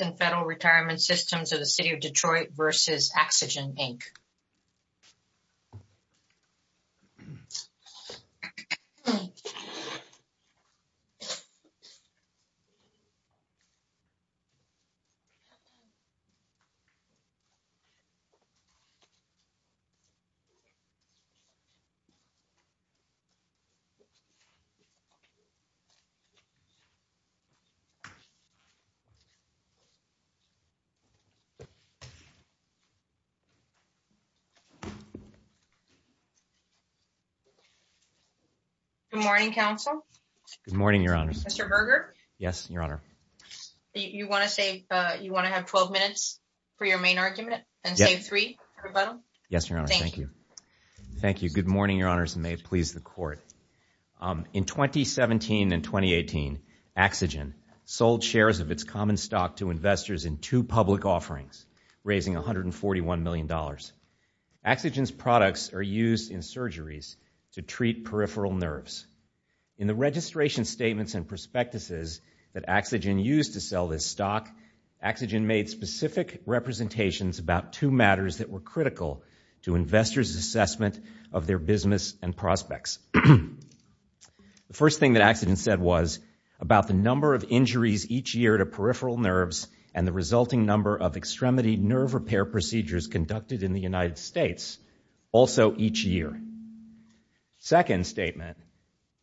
and Federal Retirement Systems of the City of Detroit v. AxoGen, Inc. Good morning, Council. Good morning, Your Honors. Mr. Berger? Yes, Your Honor. You want to have 12 minutes for your main argument and save three for rebuttal? Yes, Your Honor, thank you. Thank you. Good morning, Your Honors, and may it please the Court. In 2017 and 2018, AxoGen sold shares of its common stock to investors in two public offerings, raising $141 million. AxoGen's products are used in surgeries to treat peripheral nerves. In the registration statements and prospectuses that AxoGen used to sell this stock, AxoGen made specific representations about two matters that were critical to investors' assessment of their business and prospects. The first thing that AxoGen said was about the number of injuries each year to peripheral nerves and the resulting number of extremity nerve repair procedures conducted in the United States also each year. Second statement,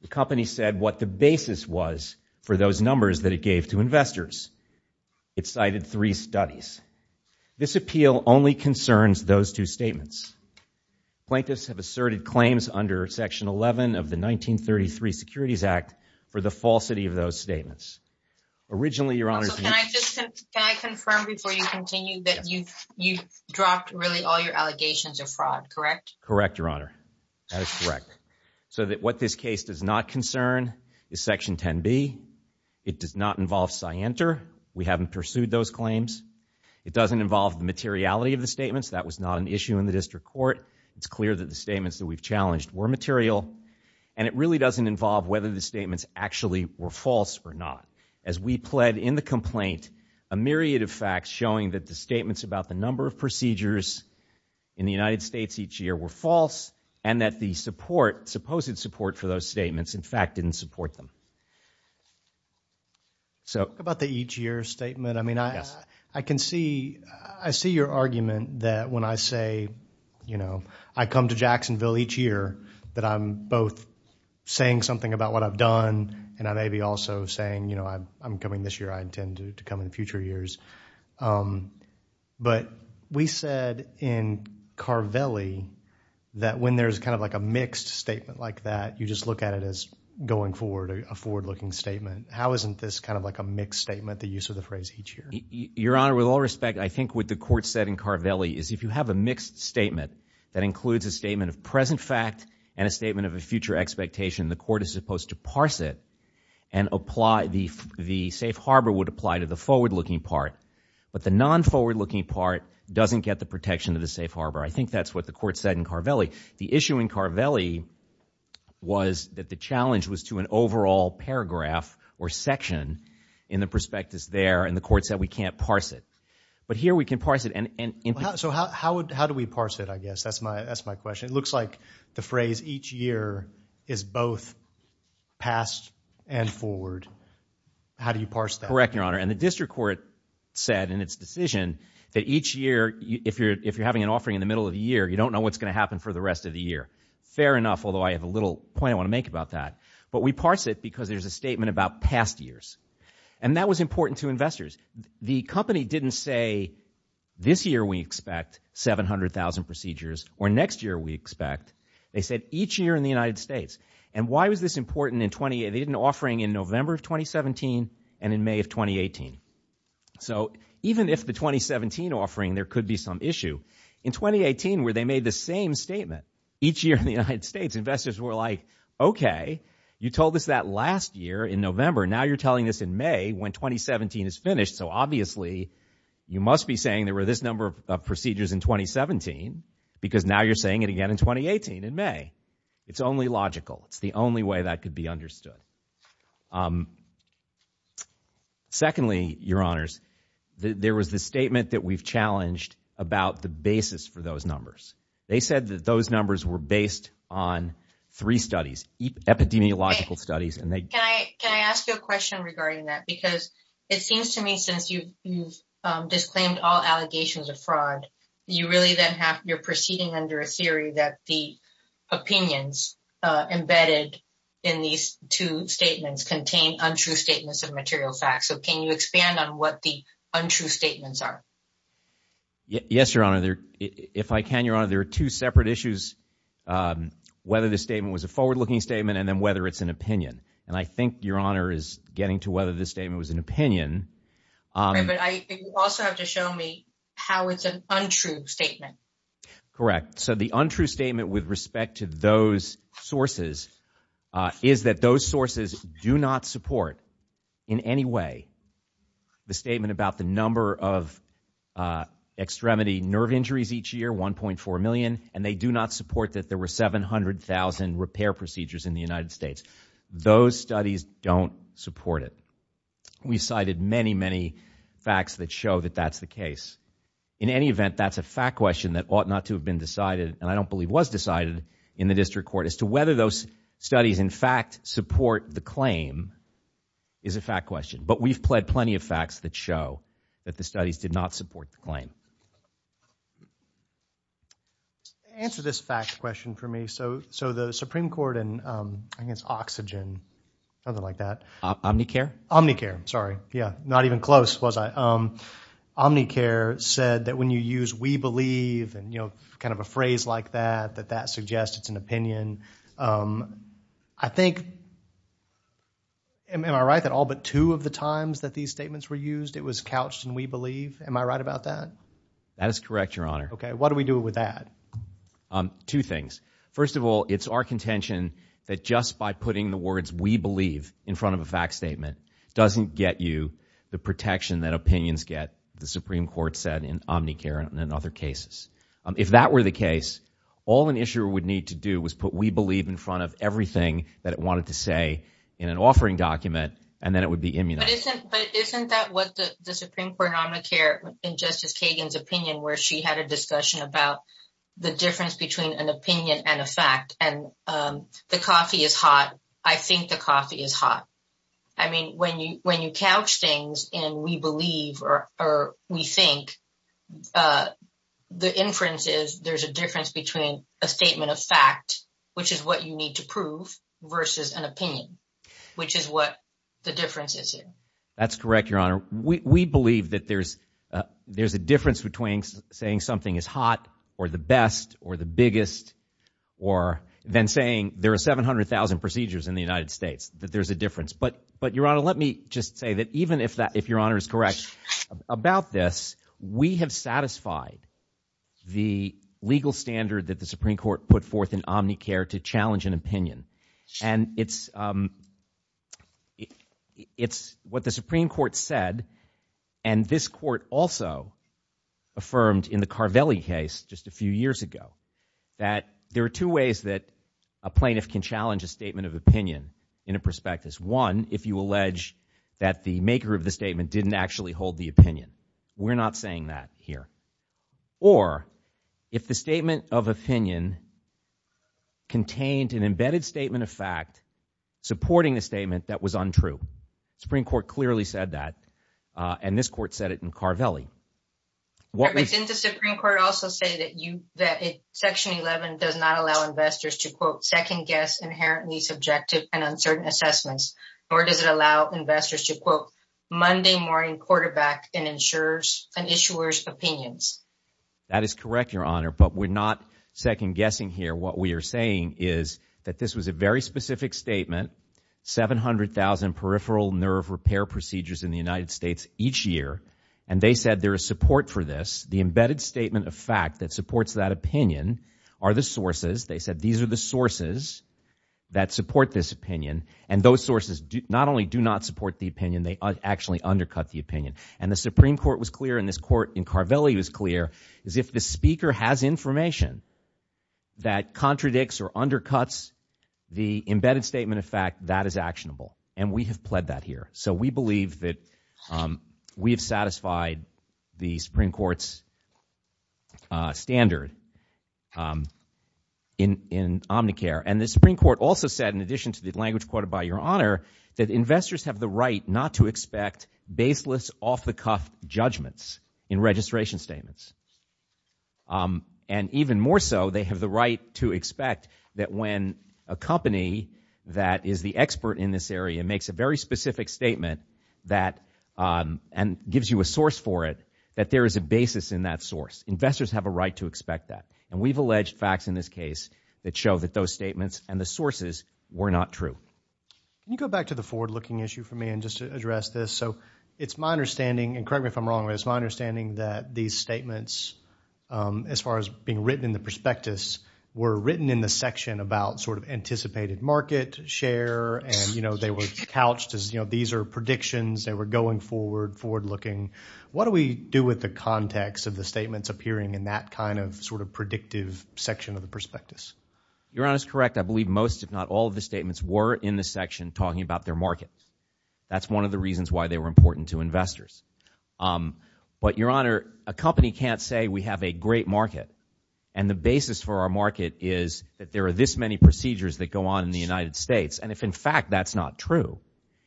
the company said what the basis was for those numbers that it gave to investors. It cited three studies. This appeal only concerns those two statements. Plaintiffs have asserted claims under Section 11 of the 1933 Securities Act for the falsity of those statements. Originally, Your Honors, can I confirm before you continue that you've dropped really all your allegations of fraud, correct? Correct, Your Honor. That is correct. So that what this case does not concern is Section 10b. It does not involve Scienter. We haven't pursued those claims. It doesn't involve the materiality of the statements. That was not an issue in the district court. It's clear that the statements that we've challenged were material and it really doesn't involve whether the statements actually were false or not. As we pled in the complaint, a myriad of facts showing that the statements about the number of procedures in the United States each year were false and that the support, supposed support, for those statements in fact didn't support them. So about the each year statement, I mean, I can see, I see your argument that when I say, you know, I come to Jacksonville each year that I'm both saying something about what I've done and I may be also saying, you know, I'm coming this year. I intend to come in future years. But we said in Carvelli that when there's kind of like a mixed statement like that, you just look at it as going forward, a forward-looking statement. How isn't this kind of like a mixed statement, the use of the phrase each year? Your Honor, with all respect, I think what the court said in Carvelli is if you have a mixed statement that includes a statement of present fact and a statement of a future expectation, the court is supposed to parse it and apply, the safe harbor would apply to the forward-looking part. But the non-forward-looking part doesn't get the protection of the safe harbor. I think that's what the court said in Carvelli. The issue in Carvelli was that the challenge was to an But here we can parse it. So how do we parse it, I guess? That's my question. It looks like the phrase each year is both past and forward. How do you parse that? Correct, Your Honor. And the district court said in its decision that each year, if you're having an offering in the middle of the year, you don't know what's going to happen for the rest of the year. Fair enough, although I have a little point I want to make about that. But we parse it because there's a statement about past years. And that was important to investors. The company didn't say this year we expect 700,000 procedures or next year we expect. They said each year in the United States. And why was this important in 20, they did an offering in November of 2017 and in May of 2018. So even if the 2017 offering, there could be some issue. In 2018, where they made the same statement, each year in the United States, investors were like, okay, you told us that last year in November. Now you're telling us in May when 2017 is finished. So obviously, you must be saying there were this number of procedures in 2017 because now you're saying it again in 2018 in May. It's only logical. It's the only way that could be understood. Secondly, Your Honors, there was the statement that we've challenged about the basis for those numbers. They said that those numbers were based on three studies, epidemiological studies and Can I ask you a question regarding that? Because it seems to me since you've disclaimed all allegations of fraud, you really then have you're proceeding under a theory that the opinions embedded in these two statements contain untrue statements of material facts. So can you expand on what the untrue statements are? Yes, Your Honor. If I can, Your Honor, there are two separate issues. Whether the statement was a forward looking statement and then whether it's an opinion. I think Your Honor is getting to whether this statement was an opinion. But I also have to show me how it's an untrue statement. Correct. So the untrue statement with respect to those sources is that those sources do not support in any way the statement about the number of extremity nerve injuries each year, 1.4 million, and they do not support that there were 700,000 repair procedures in the United States. Those studies don't support it. We cited many, many facts that show that that's the case. In any event, that's a fact question that ought not to have been decided, and I don't believe was decided in the district court as to whether those studies in fact support the claim is a fact question. But we've pled plenty of facts that show that the studies did not support the claim. To answer this fact question for me, so the Supreme Court against oxygen, nothing like that. Omnicare? Omnicare, sorry. Yeah, not even close was I. Omnicare said that when you use we believe and, you know, kind of a phrase like that, that that suggests it's an opinion. I think, am I right that all but two of the times that these statements were used, it was couched in we believe? Am I right about that? That is correct, Your Honor. Okay, what do we do with that? Two things. First of all, it's our contention that just by putting the words we believe in front of a fact statement doesn't get you the protection that opinions get, the Supreme Court said in Omnicare and in other cases. If that were the case, all an issuer would need to do was put we believe in front of everything that it wanted to say in an offering document, and then it would be immunized. But isn't that what the Supreme Court Omnicare in Justice Kagan's opinion, where she had a discussion about the difference between an opinion and a fact, and the coffee is hot. I think the coffee is hot. I mean, when you couch things in we believe or we think, the inference is there's a difference between a statement of fact, which is what you need to prove versus an opinion, which is what the difference is here. That's correct, Your Honor. We believe that there's a difference between saying something is hot or the best or the biggest or then saying there are 700,000 procedures in the United States that there's a difference. But Your Honor, let me just say that even if Your Honor is correct about this, we have satisfied the legal standard that the Supreme Court put forth in Omnicare to and it's what the Supreme Court said and this court also affirmed in the Carvelli case just a few years ago that there are two ways that a plaintiff can challenge a statement of opinion in a prospectus. One, if you allege that the maker of the statement didn't actually hold the opinion. We're not saying that here. Or if the statement of opinion contained an embedded statement of fact supporting the statement that was untrue. The Supreme Court clearly said that and this court said it in Carvelli. Didn't the Supreme Court also say that section 11 does not allow investors to quote second guess inherently subjective and uncertain assessments or does it and insurers and issuers opinions? That is correct, Your Honor, but we're not second guessing here. What we are saying is that this was a very specific statement. 700,000 peripheral nerve repair procedures in the United States each year and they said there is support for this. The embedded statement of fact that supports that opinion are the sources. They said these are the sources that support this opinion and those sources not only do not support the opinion they actually undercut the opinion and the Supreme Court was clear in this court in Carvelli was clear is if the speaker has information that contradicts or undercuts the embedded statement of fact that is actionable and we have pled that here. So we believe that we have satisfied the Supreme Court's standard in Omnicare and the Supreme Court also said in quoted by Your Honor that investors have the right not to expect baseless off-the-cuff judgments in registration statements and even more so they have the right to expect that when a company that is the expert in this area makes a very specific statement that and gives you a source for it that there is a basis in that source. Investors have a right to expect that and we've alleged facts in this case that show that those statements and the sources were not true. Can you go back to the forward-looking issue for me and just address this so it's my understanding and correct me if I'm wrong it's my understanding that these statements as far as being written in the prospectus were written in the section about sort of anticipated market share and you know they were couched as you know these are predictions they were going forward forward-looking. What do we do with the context of the statements appearing in that kind of sort of predictive section of the prospectus? Your Honor is correct I believe most if not all of the statements were in the section talking about their market. That's one of the reasons why they were important to investors but Your Honor a company can't say we have a great market and the basis for our market is that there are this many procedures that go on in the United States and if in fact that's not true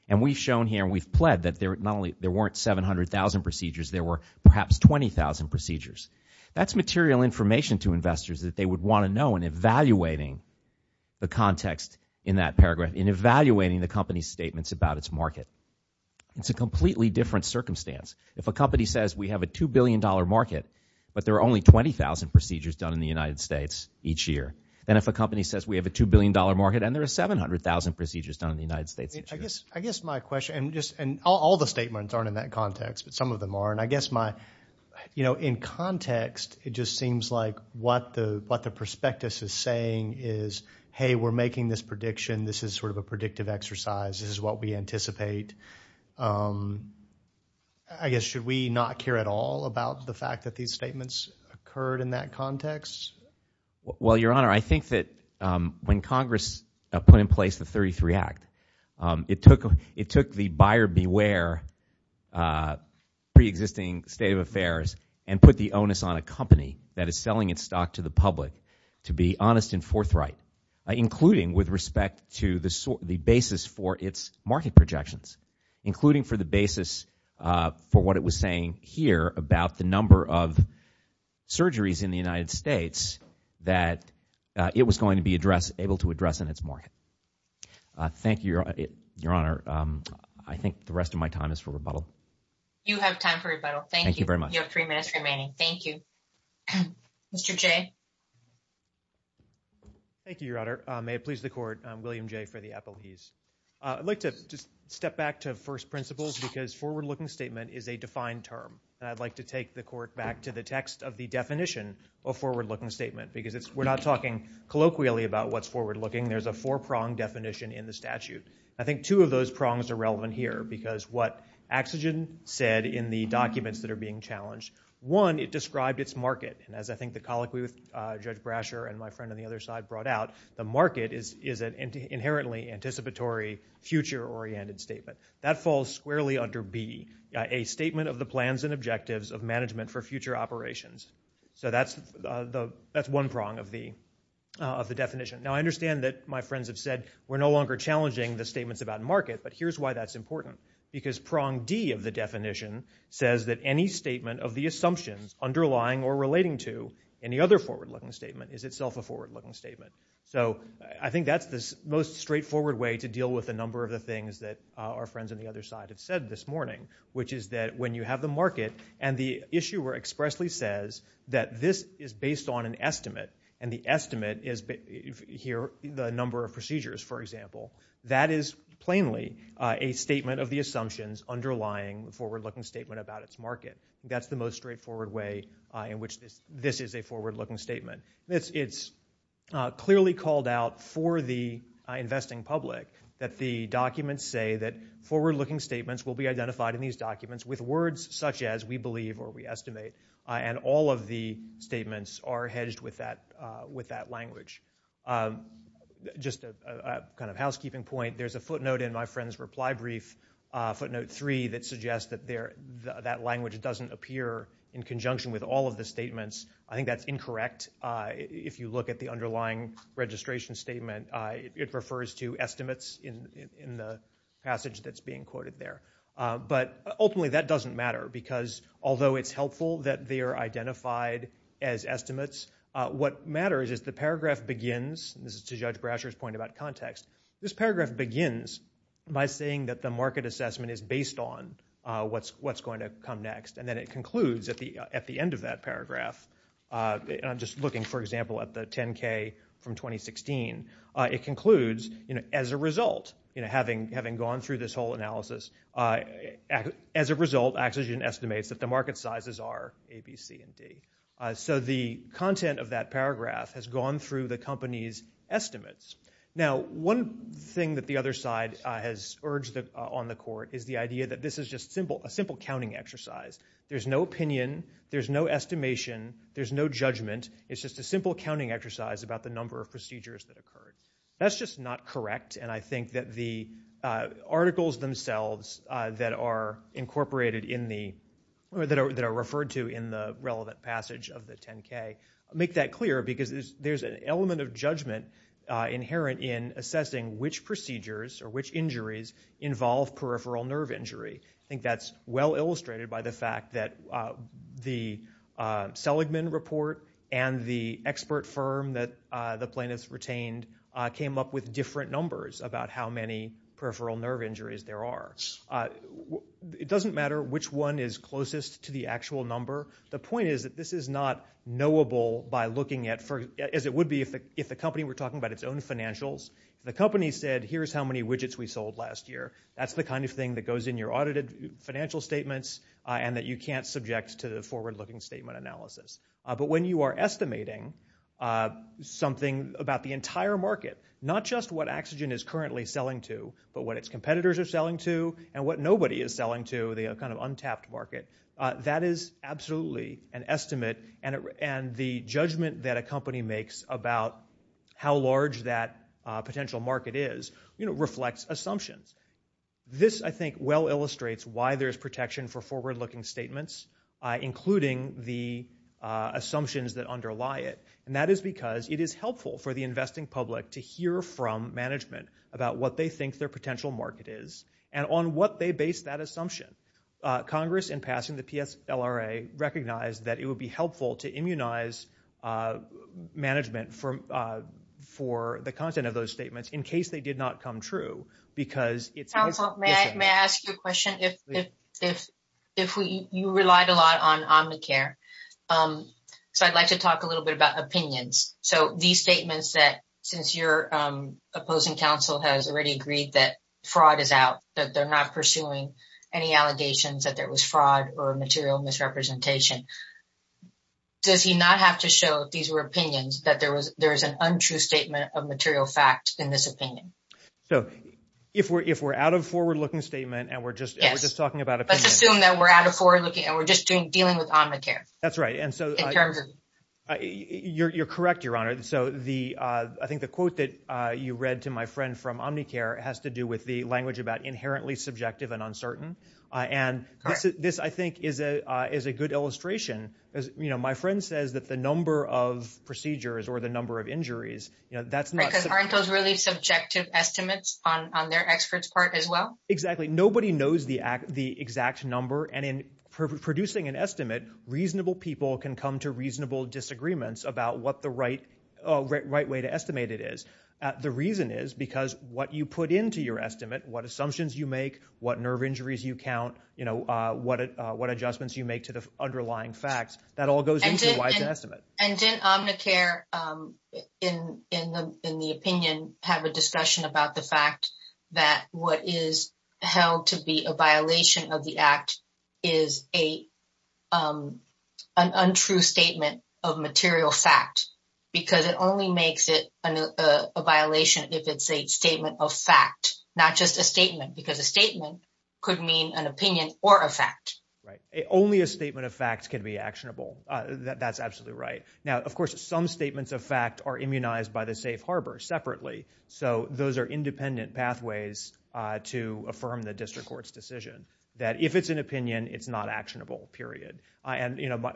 and we've shown here we've pled that there not only there weren't 700,000 procedures there were perhaps 20,000 procedures. That's material information to investors that they would want to know and evaluating the context in that paragraph in evaluating the company's statements about its market. It's a completely different circumstance if a company says we have a two billion dollar market but there are only 20,000 procedures done in the United States each year then if a company says we have a two billion dollar market and there are 700,000 procedures done in the United States. I guess my question and just and all the statements aren't in that context but some of them are and I guess my you know in context it just seems like what the what the prospectus is saying is hey we're making this prediction this is sort of a predictive exercise this is what we anticipate. I guess should we not care at all about the fact that these statements occurred in that context? Well Your Honor I think that when Congress put in place the 33 Act it took it took the buyer beware pre-existing state of affairs and put the onus on a company that is selling its stock to the public to be honest and forthright including with respect to the basis for its market projections including for the basis for what it was saying here about the number of surgeries in the United States that it was going to be addressed able to address in its market. Thank you Your Honor. I think the rest of my time is for rebuttal. You have time for rebuttal. Thank you very much. You have three minutes remaining. Thank you. Mr. Jay. Thank you Your Honor. May it please the court I'm William Jay for the appellees. I'd like to just step back to first principles because forward-looking statement is a defined term and I'd like to take the court back to the text of the definition of forward-looking statement because it's we're not talking colloquially about what's forward-looking. There's a four-prong definition in the statute. I think two of those prongs are relevant here because what Axsigen said in the documents that are being challenged one it described its market and as I think the colloquy with Judge Brasher and my friend on the other side brought out the market is is an inherently anticipatory future-oriented statement that falls squarely under B a statement of the of the definition. Now I understand that my friends have said we're no longer challenging the statements about market but here's why that's important because prong D of the definition says that any statement of the assumptions underlying or relating to any other forward-looking statement is itself a forward-looking statement. So I think that's the most straightforward way to deal with a number of the things that our friends on the other side have said this morning which is that when you have the market and the issuer expressly says that this is based on an estimate and the estimate is here the number of procedures for example that is plainly a statement of the assumptions underlying the forward-looking statement about its market. That's the most straightforward way in which this this is a forward-looking statement. It's clearly called out for the investing public that the documents say that forward-looking statements will be such as we believe or we estimate and all of the statements are hedged with that with that language. Just a kind of housekeeping point there's a footnote in my friend's reply brief footnote three that suggests that there that language doesn't appear in conjunction with all of the statements. I think that's incorrect if you look at the underlying registration statement it refers to estimates in in the passage that's being quoted there but ultimately that doesn't matter because although it's helpful that they are identified as estimates what matters is the paragraph begins this is to judge Brasher's point about context this paragraph begins by saying that the market assessment is based on what's what's going to come next and then it concludes at the at the end of that paragraph and I'm just looking for example at the 10k from 2016 it concludes you know as a result you know having having gone through this whole analysis as a result Axogen estimates that the market sizes are a b c and d. So the content of that paragraph has gone through the company's estimates. Now one thing that the other side has urged on the court is the idea that this is just a simple counting exercise there's no opinion there's no estimation there's no judgment it's just a simple counting exercise about the number of procedures that occurred that's just not correct and I think that the articles themselves that are incorporated in the that are referred to in the relevant passage of the 10k make that clear because there's an element of judgment inherent in which procedures or which injuries involve peripheral nerve injury. I think that's well illustrated by the fact that the Seligman report and the expert firm that the plaintiffs retained came up with different numbers about how many peripheral nerve injuries there are. It doesn't matter which one is closest to the actual number the point is that this is not knowable by looking at for as it would be if the company were talking about its own financials the company said here's how many widgets we sold last year that's the kind of thing that goes in your audited financial statements and that you can't subject to the forward-looking statement analysis but when you are estimating something about the entire market not just what oxygen is currently selling to but what its competitors are selling to and what nobody is selling to the kind of untapped market that is absolutely an estimate and the judgment that a company makes about how large that potential market is you know reflects assumptions this I think well illustrates why there's protection for forward-looking statements including the assumptions that underlie it and that is because it is helpful for the investing public to hear from management about what they think their potential market is and on what they base that assumption. Congress in passing the PSLRA recognized that it would be helpful to immunize management for the content of those statements in case they did not come true because it's may I ask you a question if you relied a lot on Omnicare so I'd like to talk a little bit about opinions so these statements that since your opposing counsel has already agreed that they're not pursuing any allegations that there was fraud or material misrepresentation does he not have to show these were opinions that there was there is an untrue statement of material fact in this opinion so if we're if we're out of forward-looking statement and we're just we're just talking about let's assume that we're out of forward looking and we're just doing dealing with Omnicare that's right and so in terms of you're you're correct your honor so the uh I think the quote that uh you read to my friend from Omnicare has to do with the language about inherently subjective and uncertain uh and this is this I think is a uh is a good illustration as you know my friend says that the number of procedures or the number of injuries you know that's not because aren't those really subjective estimates on on their experts part as well exactly nobody knows the act the exact number and in producing an estimate reasonable people can come to reasonable disagreements about what the right right way to estimate it is the reason is because what you put into your estimate what assumptions you make what nerve injuries you count you know uh what uh what adjustments you make to the underlying facts that all goes into why it's an estimate and didn't Omnicare um in in the in the opinion have a discussion about the fact that what is held to be a violation of the act is a um an untrue statement of material fact because it only makes it a violation if it's a statement of fact not just a statement because a statement could mean an opinion or a fact right only a statement of facts can be actionable uh that's absolutely right now of course some statements of fact are immunized by the safe harbor separately so those are independent pathways uh to affirm the district court's decision that if it's an opinion it's not actionable period and you know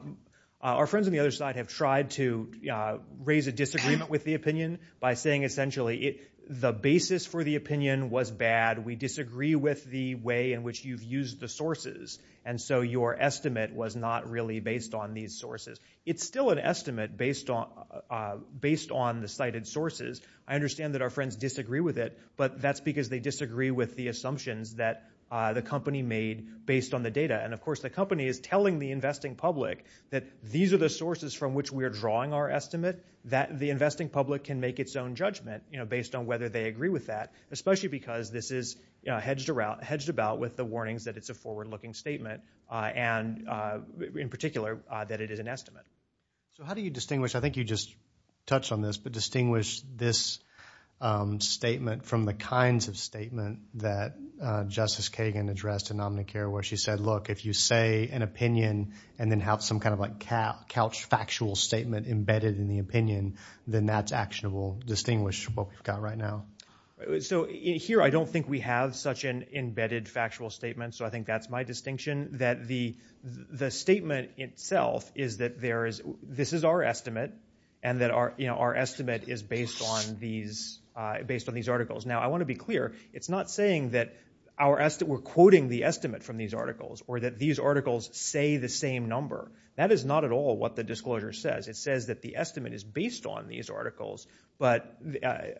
our friends on the other have tried to uh raise a disagreement with the opinion by saying essentially it the basis for the opinion was bad we disagree with the way in which you've used the sources and so your estimate was not really based on these sources it's still an estimate based on uh based on the cited sources i understand that our friends disagree with it but that's because they disagree with the assumptions that uh the company made based on the data and of course the company is telling the investing public that these are the sources from which we are drawing our estimate that the investing public can make its own judgment you know based on whether they agree with that especially because this is you know hedged around hedged about with the warnings that it's a forward-looking statement uh and uh in particular uh that it is an estimate so how do you distinguish i think you just touched on this but distinguish this um statement from the kinds of statement that uh say an opinion and then have some kind of like couch factual statement embedded in the opinion then that's actionable distinguish what we've got right now so here i don't think we have such an embedded factual statement so i think that's my distinction that the the statement itself is that there is this is our estimate and that our you know our estimate is based on these uh based on these articles now i want to be clear it's not saying that our estimate we're quoting the estimate from these articles or that these articles say the same number that is not at all what the disclosure says it says that the estimate is based on these articles but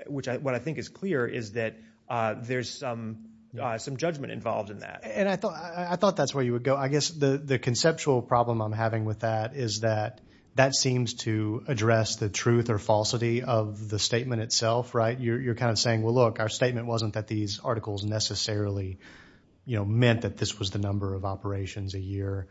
which i what i think is clear is that uh there's some uh some judgment involved in that and i thought i thought that's where you would go i guess the the conceptual problem i'm having with that is that that seems to address the truth or falsity of the statement itself right you're kind of saying well look our statement wasn't that these articles necessarily you know meant that this was the number of operations a year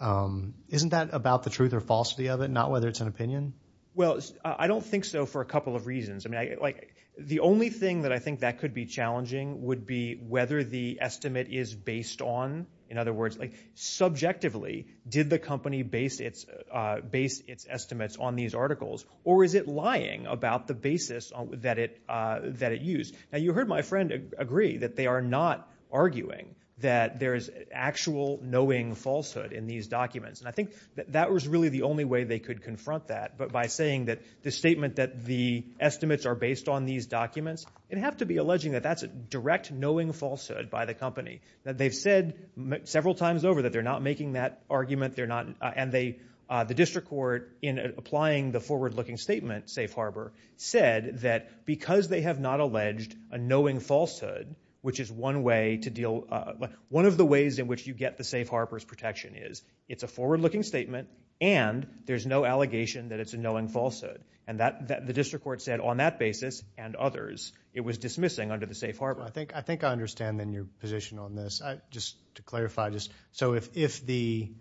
um isn't that about the truth or falsity of it not whether it's an opinion well i don't think so for a couple of reasons i mean like the only thing that i think that could be challenging would be whether the estimate is based on in other words like subjectively did the company base its uh base its estimates on these articles or is it lying about the basis that it uh that it used now you heard my friend agree that they are not arguing that there is actual knowing falsehood in these documents and i think that was really the only way they could confront that but by saying that the statement that the estimates are based on these documents and have to be alleging that that's a direct knowing falsehood by the company that they've said several times over that they're not making that argument they're not and they uh the district court in applying the forward-looking statement safe harbor said that because they have not alleged a knowing falsehood which is one way to deal uh one of the ways in which you get the safe harbors protection is it's a forward-looking statement and there's no allegation that it's a knowing falsehood and that that the district court said on that basis and others it was dismissing under the safe harbor i think i think i understand in your position on this i just to clarify just so if if the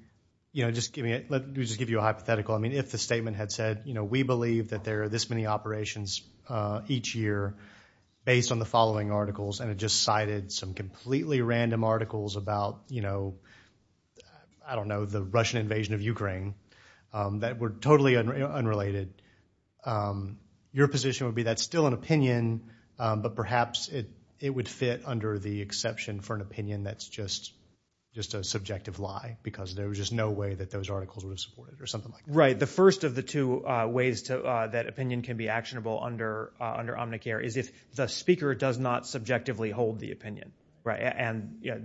you know just give me let me just give you a hypothetical i mean if the statement had said you know we believe that there are this many operations uh each year based on the following articles and it just cited some completely random articles about you know i don't know the russian invasion of ukraine that were totally unrelated your position would be that's still an opinion but perhaps it it would fit under the exception for an opinion that's just just a subjective lie because there was just no way that those articles would have supported or something like right the first of the two uh ways to uh that opinion can be actionable under uh under omnicare is if the speaker does not subjectively hold the opinion right and yeah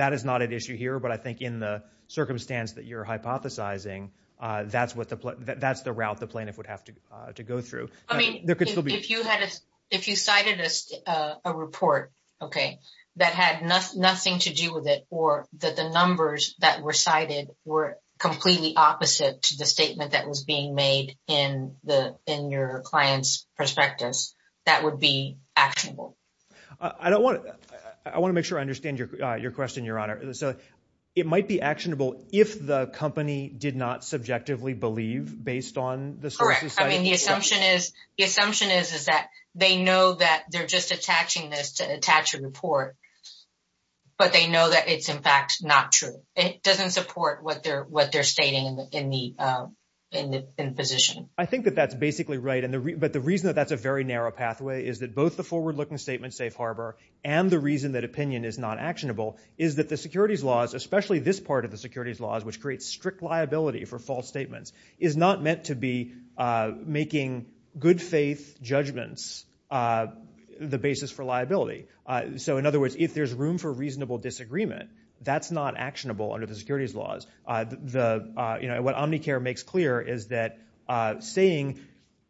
that is not an issue here but i think in the circumstance that you're hypothesizing uh that's what the that's the route the plaintiff would have to uh to go through i mean there could still be if you had a if you cited a uh a report okay that nothing to do with it or that the numbers that were cited were completely opposite to the statement that was being made in the in your client's perspectives that would be actionable i don't want to i want to make sure i understand your uh your question your honor so it might be actionable if the company did not subjectively believe based on this correct i mean the assumption is the assumption is is that they know that they're just attaching this to attach a report but they know that it's in fact not true it doesn't support what they're what they're stating in the in the uh in the in position i think that that's basically right and the but the reason that that's a very narrow pathway is that both the forward-looking statement safe harbor and the reason that opinion is not actionable is that the securities laws especially this part of the securities laws which creates strict liability for false statements is not meant to be uh making good faith judgments uh the basis for liability uh so in other words if there's room for reasonable disagreement that's not actionable under the securities laws uh the uh you know what omnicare makes clear is that uh saying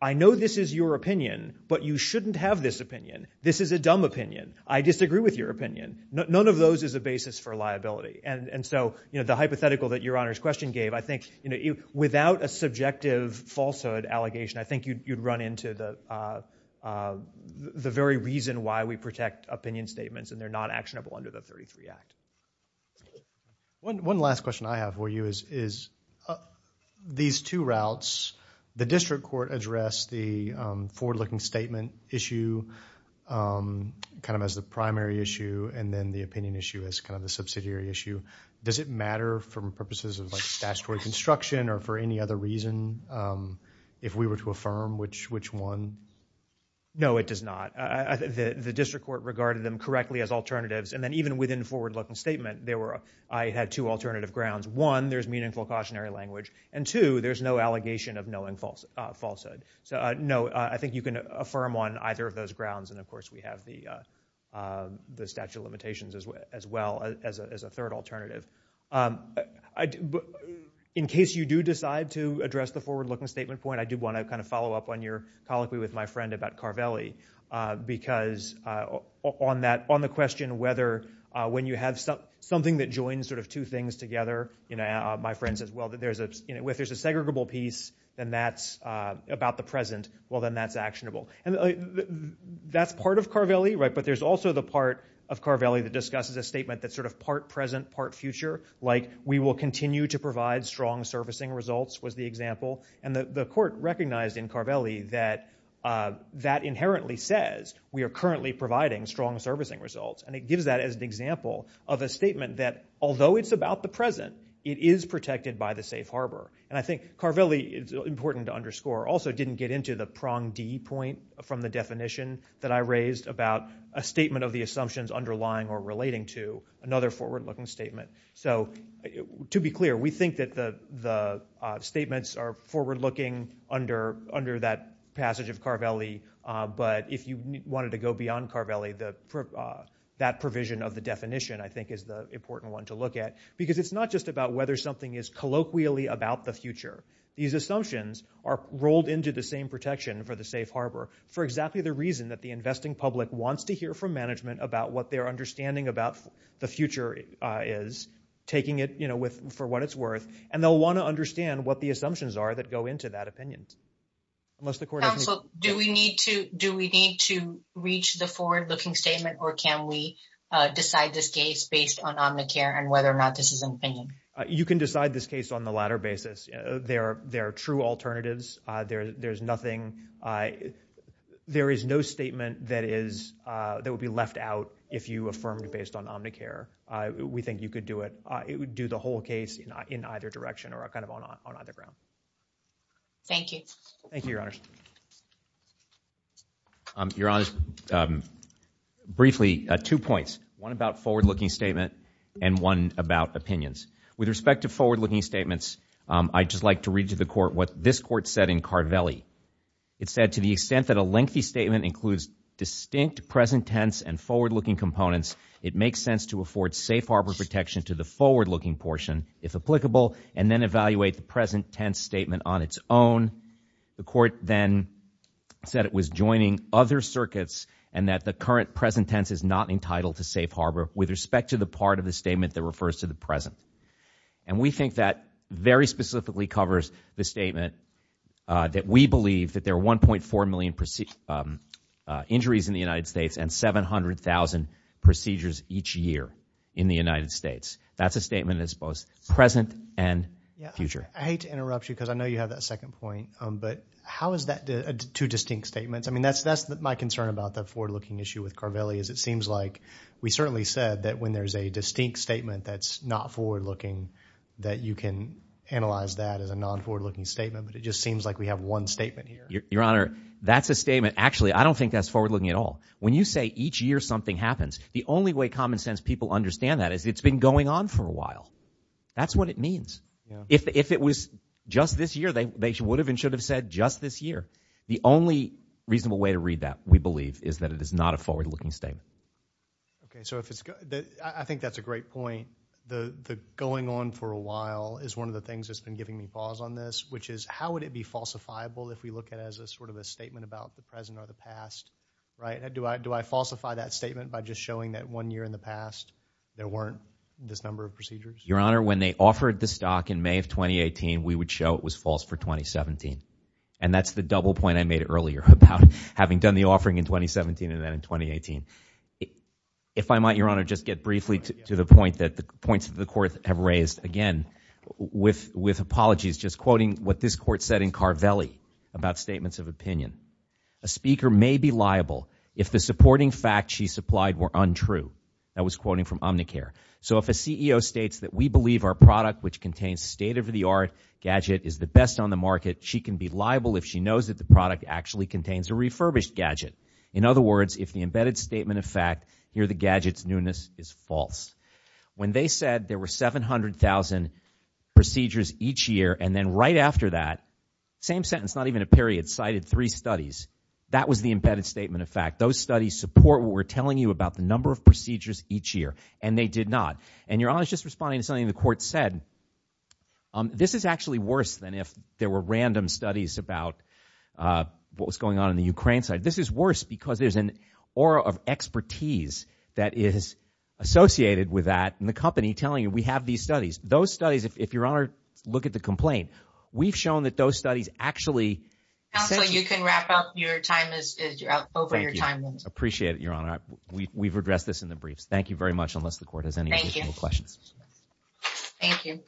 i know this is your opinion but you shouldn't have this opinion this is a dumb opinion i disagree with your opinion none of those is a basis for liability and and so you know the hypothetical that your honor's question gave i think you know without a subjective falsehood allegation i think you'd run into the uh uh the very reason why we protect opinion statements and they're not actionable under the 33 act one one last question i have for you is is uh these two routes the district court addressed the um forward-looking statement issue um kind of as the primary issue and then the opinion issue is kind of a subsidiary issue does it matter from purposes of statutory construction or for any other reason um if we were to affirm which which one no it does not i think the district court regarded them correctly as alternatives and then even within forward-looking statement there were i had two alternative grounds one there's meaningful cautionary language and two there's no allegation of knowing false falsehood so no i think you can affirm on either of those grounds and of course we have the uh the statute of limitations as well as a third alternative um i in case you do decide to address the forward-looking statement point i do want to kind of follow up on your colloquy with my friend about carvelli uh because uh on that on the question whether uh when you have something that joins sort of two things together you know my friends as well that there's a you know if there's a segregable piece then that's uh about the present well then that's actionable and that's part of carvelli right but there's also the part of carvelli that discusses a statement that's sort of part present part future like we will continue to provide strong servicing results was the example and the the court recognized in carvelli that uh that inherently says we are currently providing strong servicing results and it gives that as an example of a statement that although it's about the present it is protected by the safe harbor and i think carvelli it's that i raised about a statement of the assumptions underlying or relating to another forward-looking statement so to be clear we think that the the statements are forward-looking under under that passage of carvelli but if you wanted to go beyond carvelli the that provision of the definition i think is the important one to look at because it's not just about whether something is colloquially about the future these assumptions are rolled into the same for the safe harbor for exactly the reason that the investing public wants to hear from management about what their understanding about the future is taking it you know with for what it's worth and they'll want to understand what the assumptions are that go into that opinion unless the court so do we need to do we need to reach the forward-looking statement or can we decide this case based on omnicare and whether or not this is an opinion you can decide this case on the latter basis there are there are true alternatives uh there there's nothing uh there is no statement that is uh that would be left out if you affirmed based on omnicare uh we think you could do it uh it would do the whole case in either direction or kind of on on either ground thank you thank you your honors um your honors um briefly uh two points one about forward-looking statement and one about opinions with respect to forward-looking statements um i'd just like to read to the court what this court said in card valley it said to the extent that a lengthy statement includes distinct present tense and forward-looking components it makes sense to afford safe harbor protection to the forward-looking portion if applicable and then evaluate the present tense statement on its own the court then said it was joining other circuits and that the the part of the statement that refers to the present and we think that very specifically covers the statement uh that we believe that there are 1.4 million procedures um uh injuries in the united states and 700 000 procedures each year in the united states that's a statement that's both present and future i hate to interrupt you because i know you have that second point um but how is that two distinct statements i mean that's that's my concern about the forward-looking issue with carbelli is it seems like we certainly said that when there's a distinct statement that's not forward-looking that you can analyze that as a non-forward-looking statement but it just seems like we have one statement here your honor that's a statement actually i don't think that's forward-looking at all when you say each year something happens the only way common sense people understand that is it's been going on for a while that's what it means if if it was just this year they they would have and should have said just this year the only reasonable way to read that we believe is that it is not a forward-looking statement okay so if it's good i think that's a great point the the going on for a while is one of the things that's been giving me pause on this which is how would it be falsifiable if we look at as a sort of a statement about the present or the past right do i do i falsify that statement by just showing that one year in the past there weren't this number of procedures your honor when they offered the stock in may of 2018 we would show it was false for 2017 and that's the double point i made earlier about having done the offering in 2017 and then in 2018 if i might your honor just get briefly to the point that the points of the court have raised again with with apologies just quoting what this court said in carvelli about statements of opinion a speaker may be liable if the supporting fact she supplied were untrue that was quoting from omnicare so if a ceo states that we believe our product which contains state-of-the-art gadget is the best on the market she can be liable if she knows that product actually contains a refurbished gadget in other words if the embedded statement of fact here the gadgets newness is false when they said there were 700 000 procedures each year and then right after that same sentence not even a period cited three studies that was the embedded statement of fact those studies support what we're telling you about the number of procedures each year and they did not and you're always just responding to something the court said um this is actually worse than if there were random studies about uh what was going on in the ukraine side this is worse because there's an aura of expertise that is associated with that and the company telling you we have these studies those studies if your honor look at the complaint we've shown that those studies actually so you can wrap up your time as you're out over your time appreciate it your honor we've addressed this in the briefs thank you very much unless the you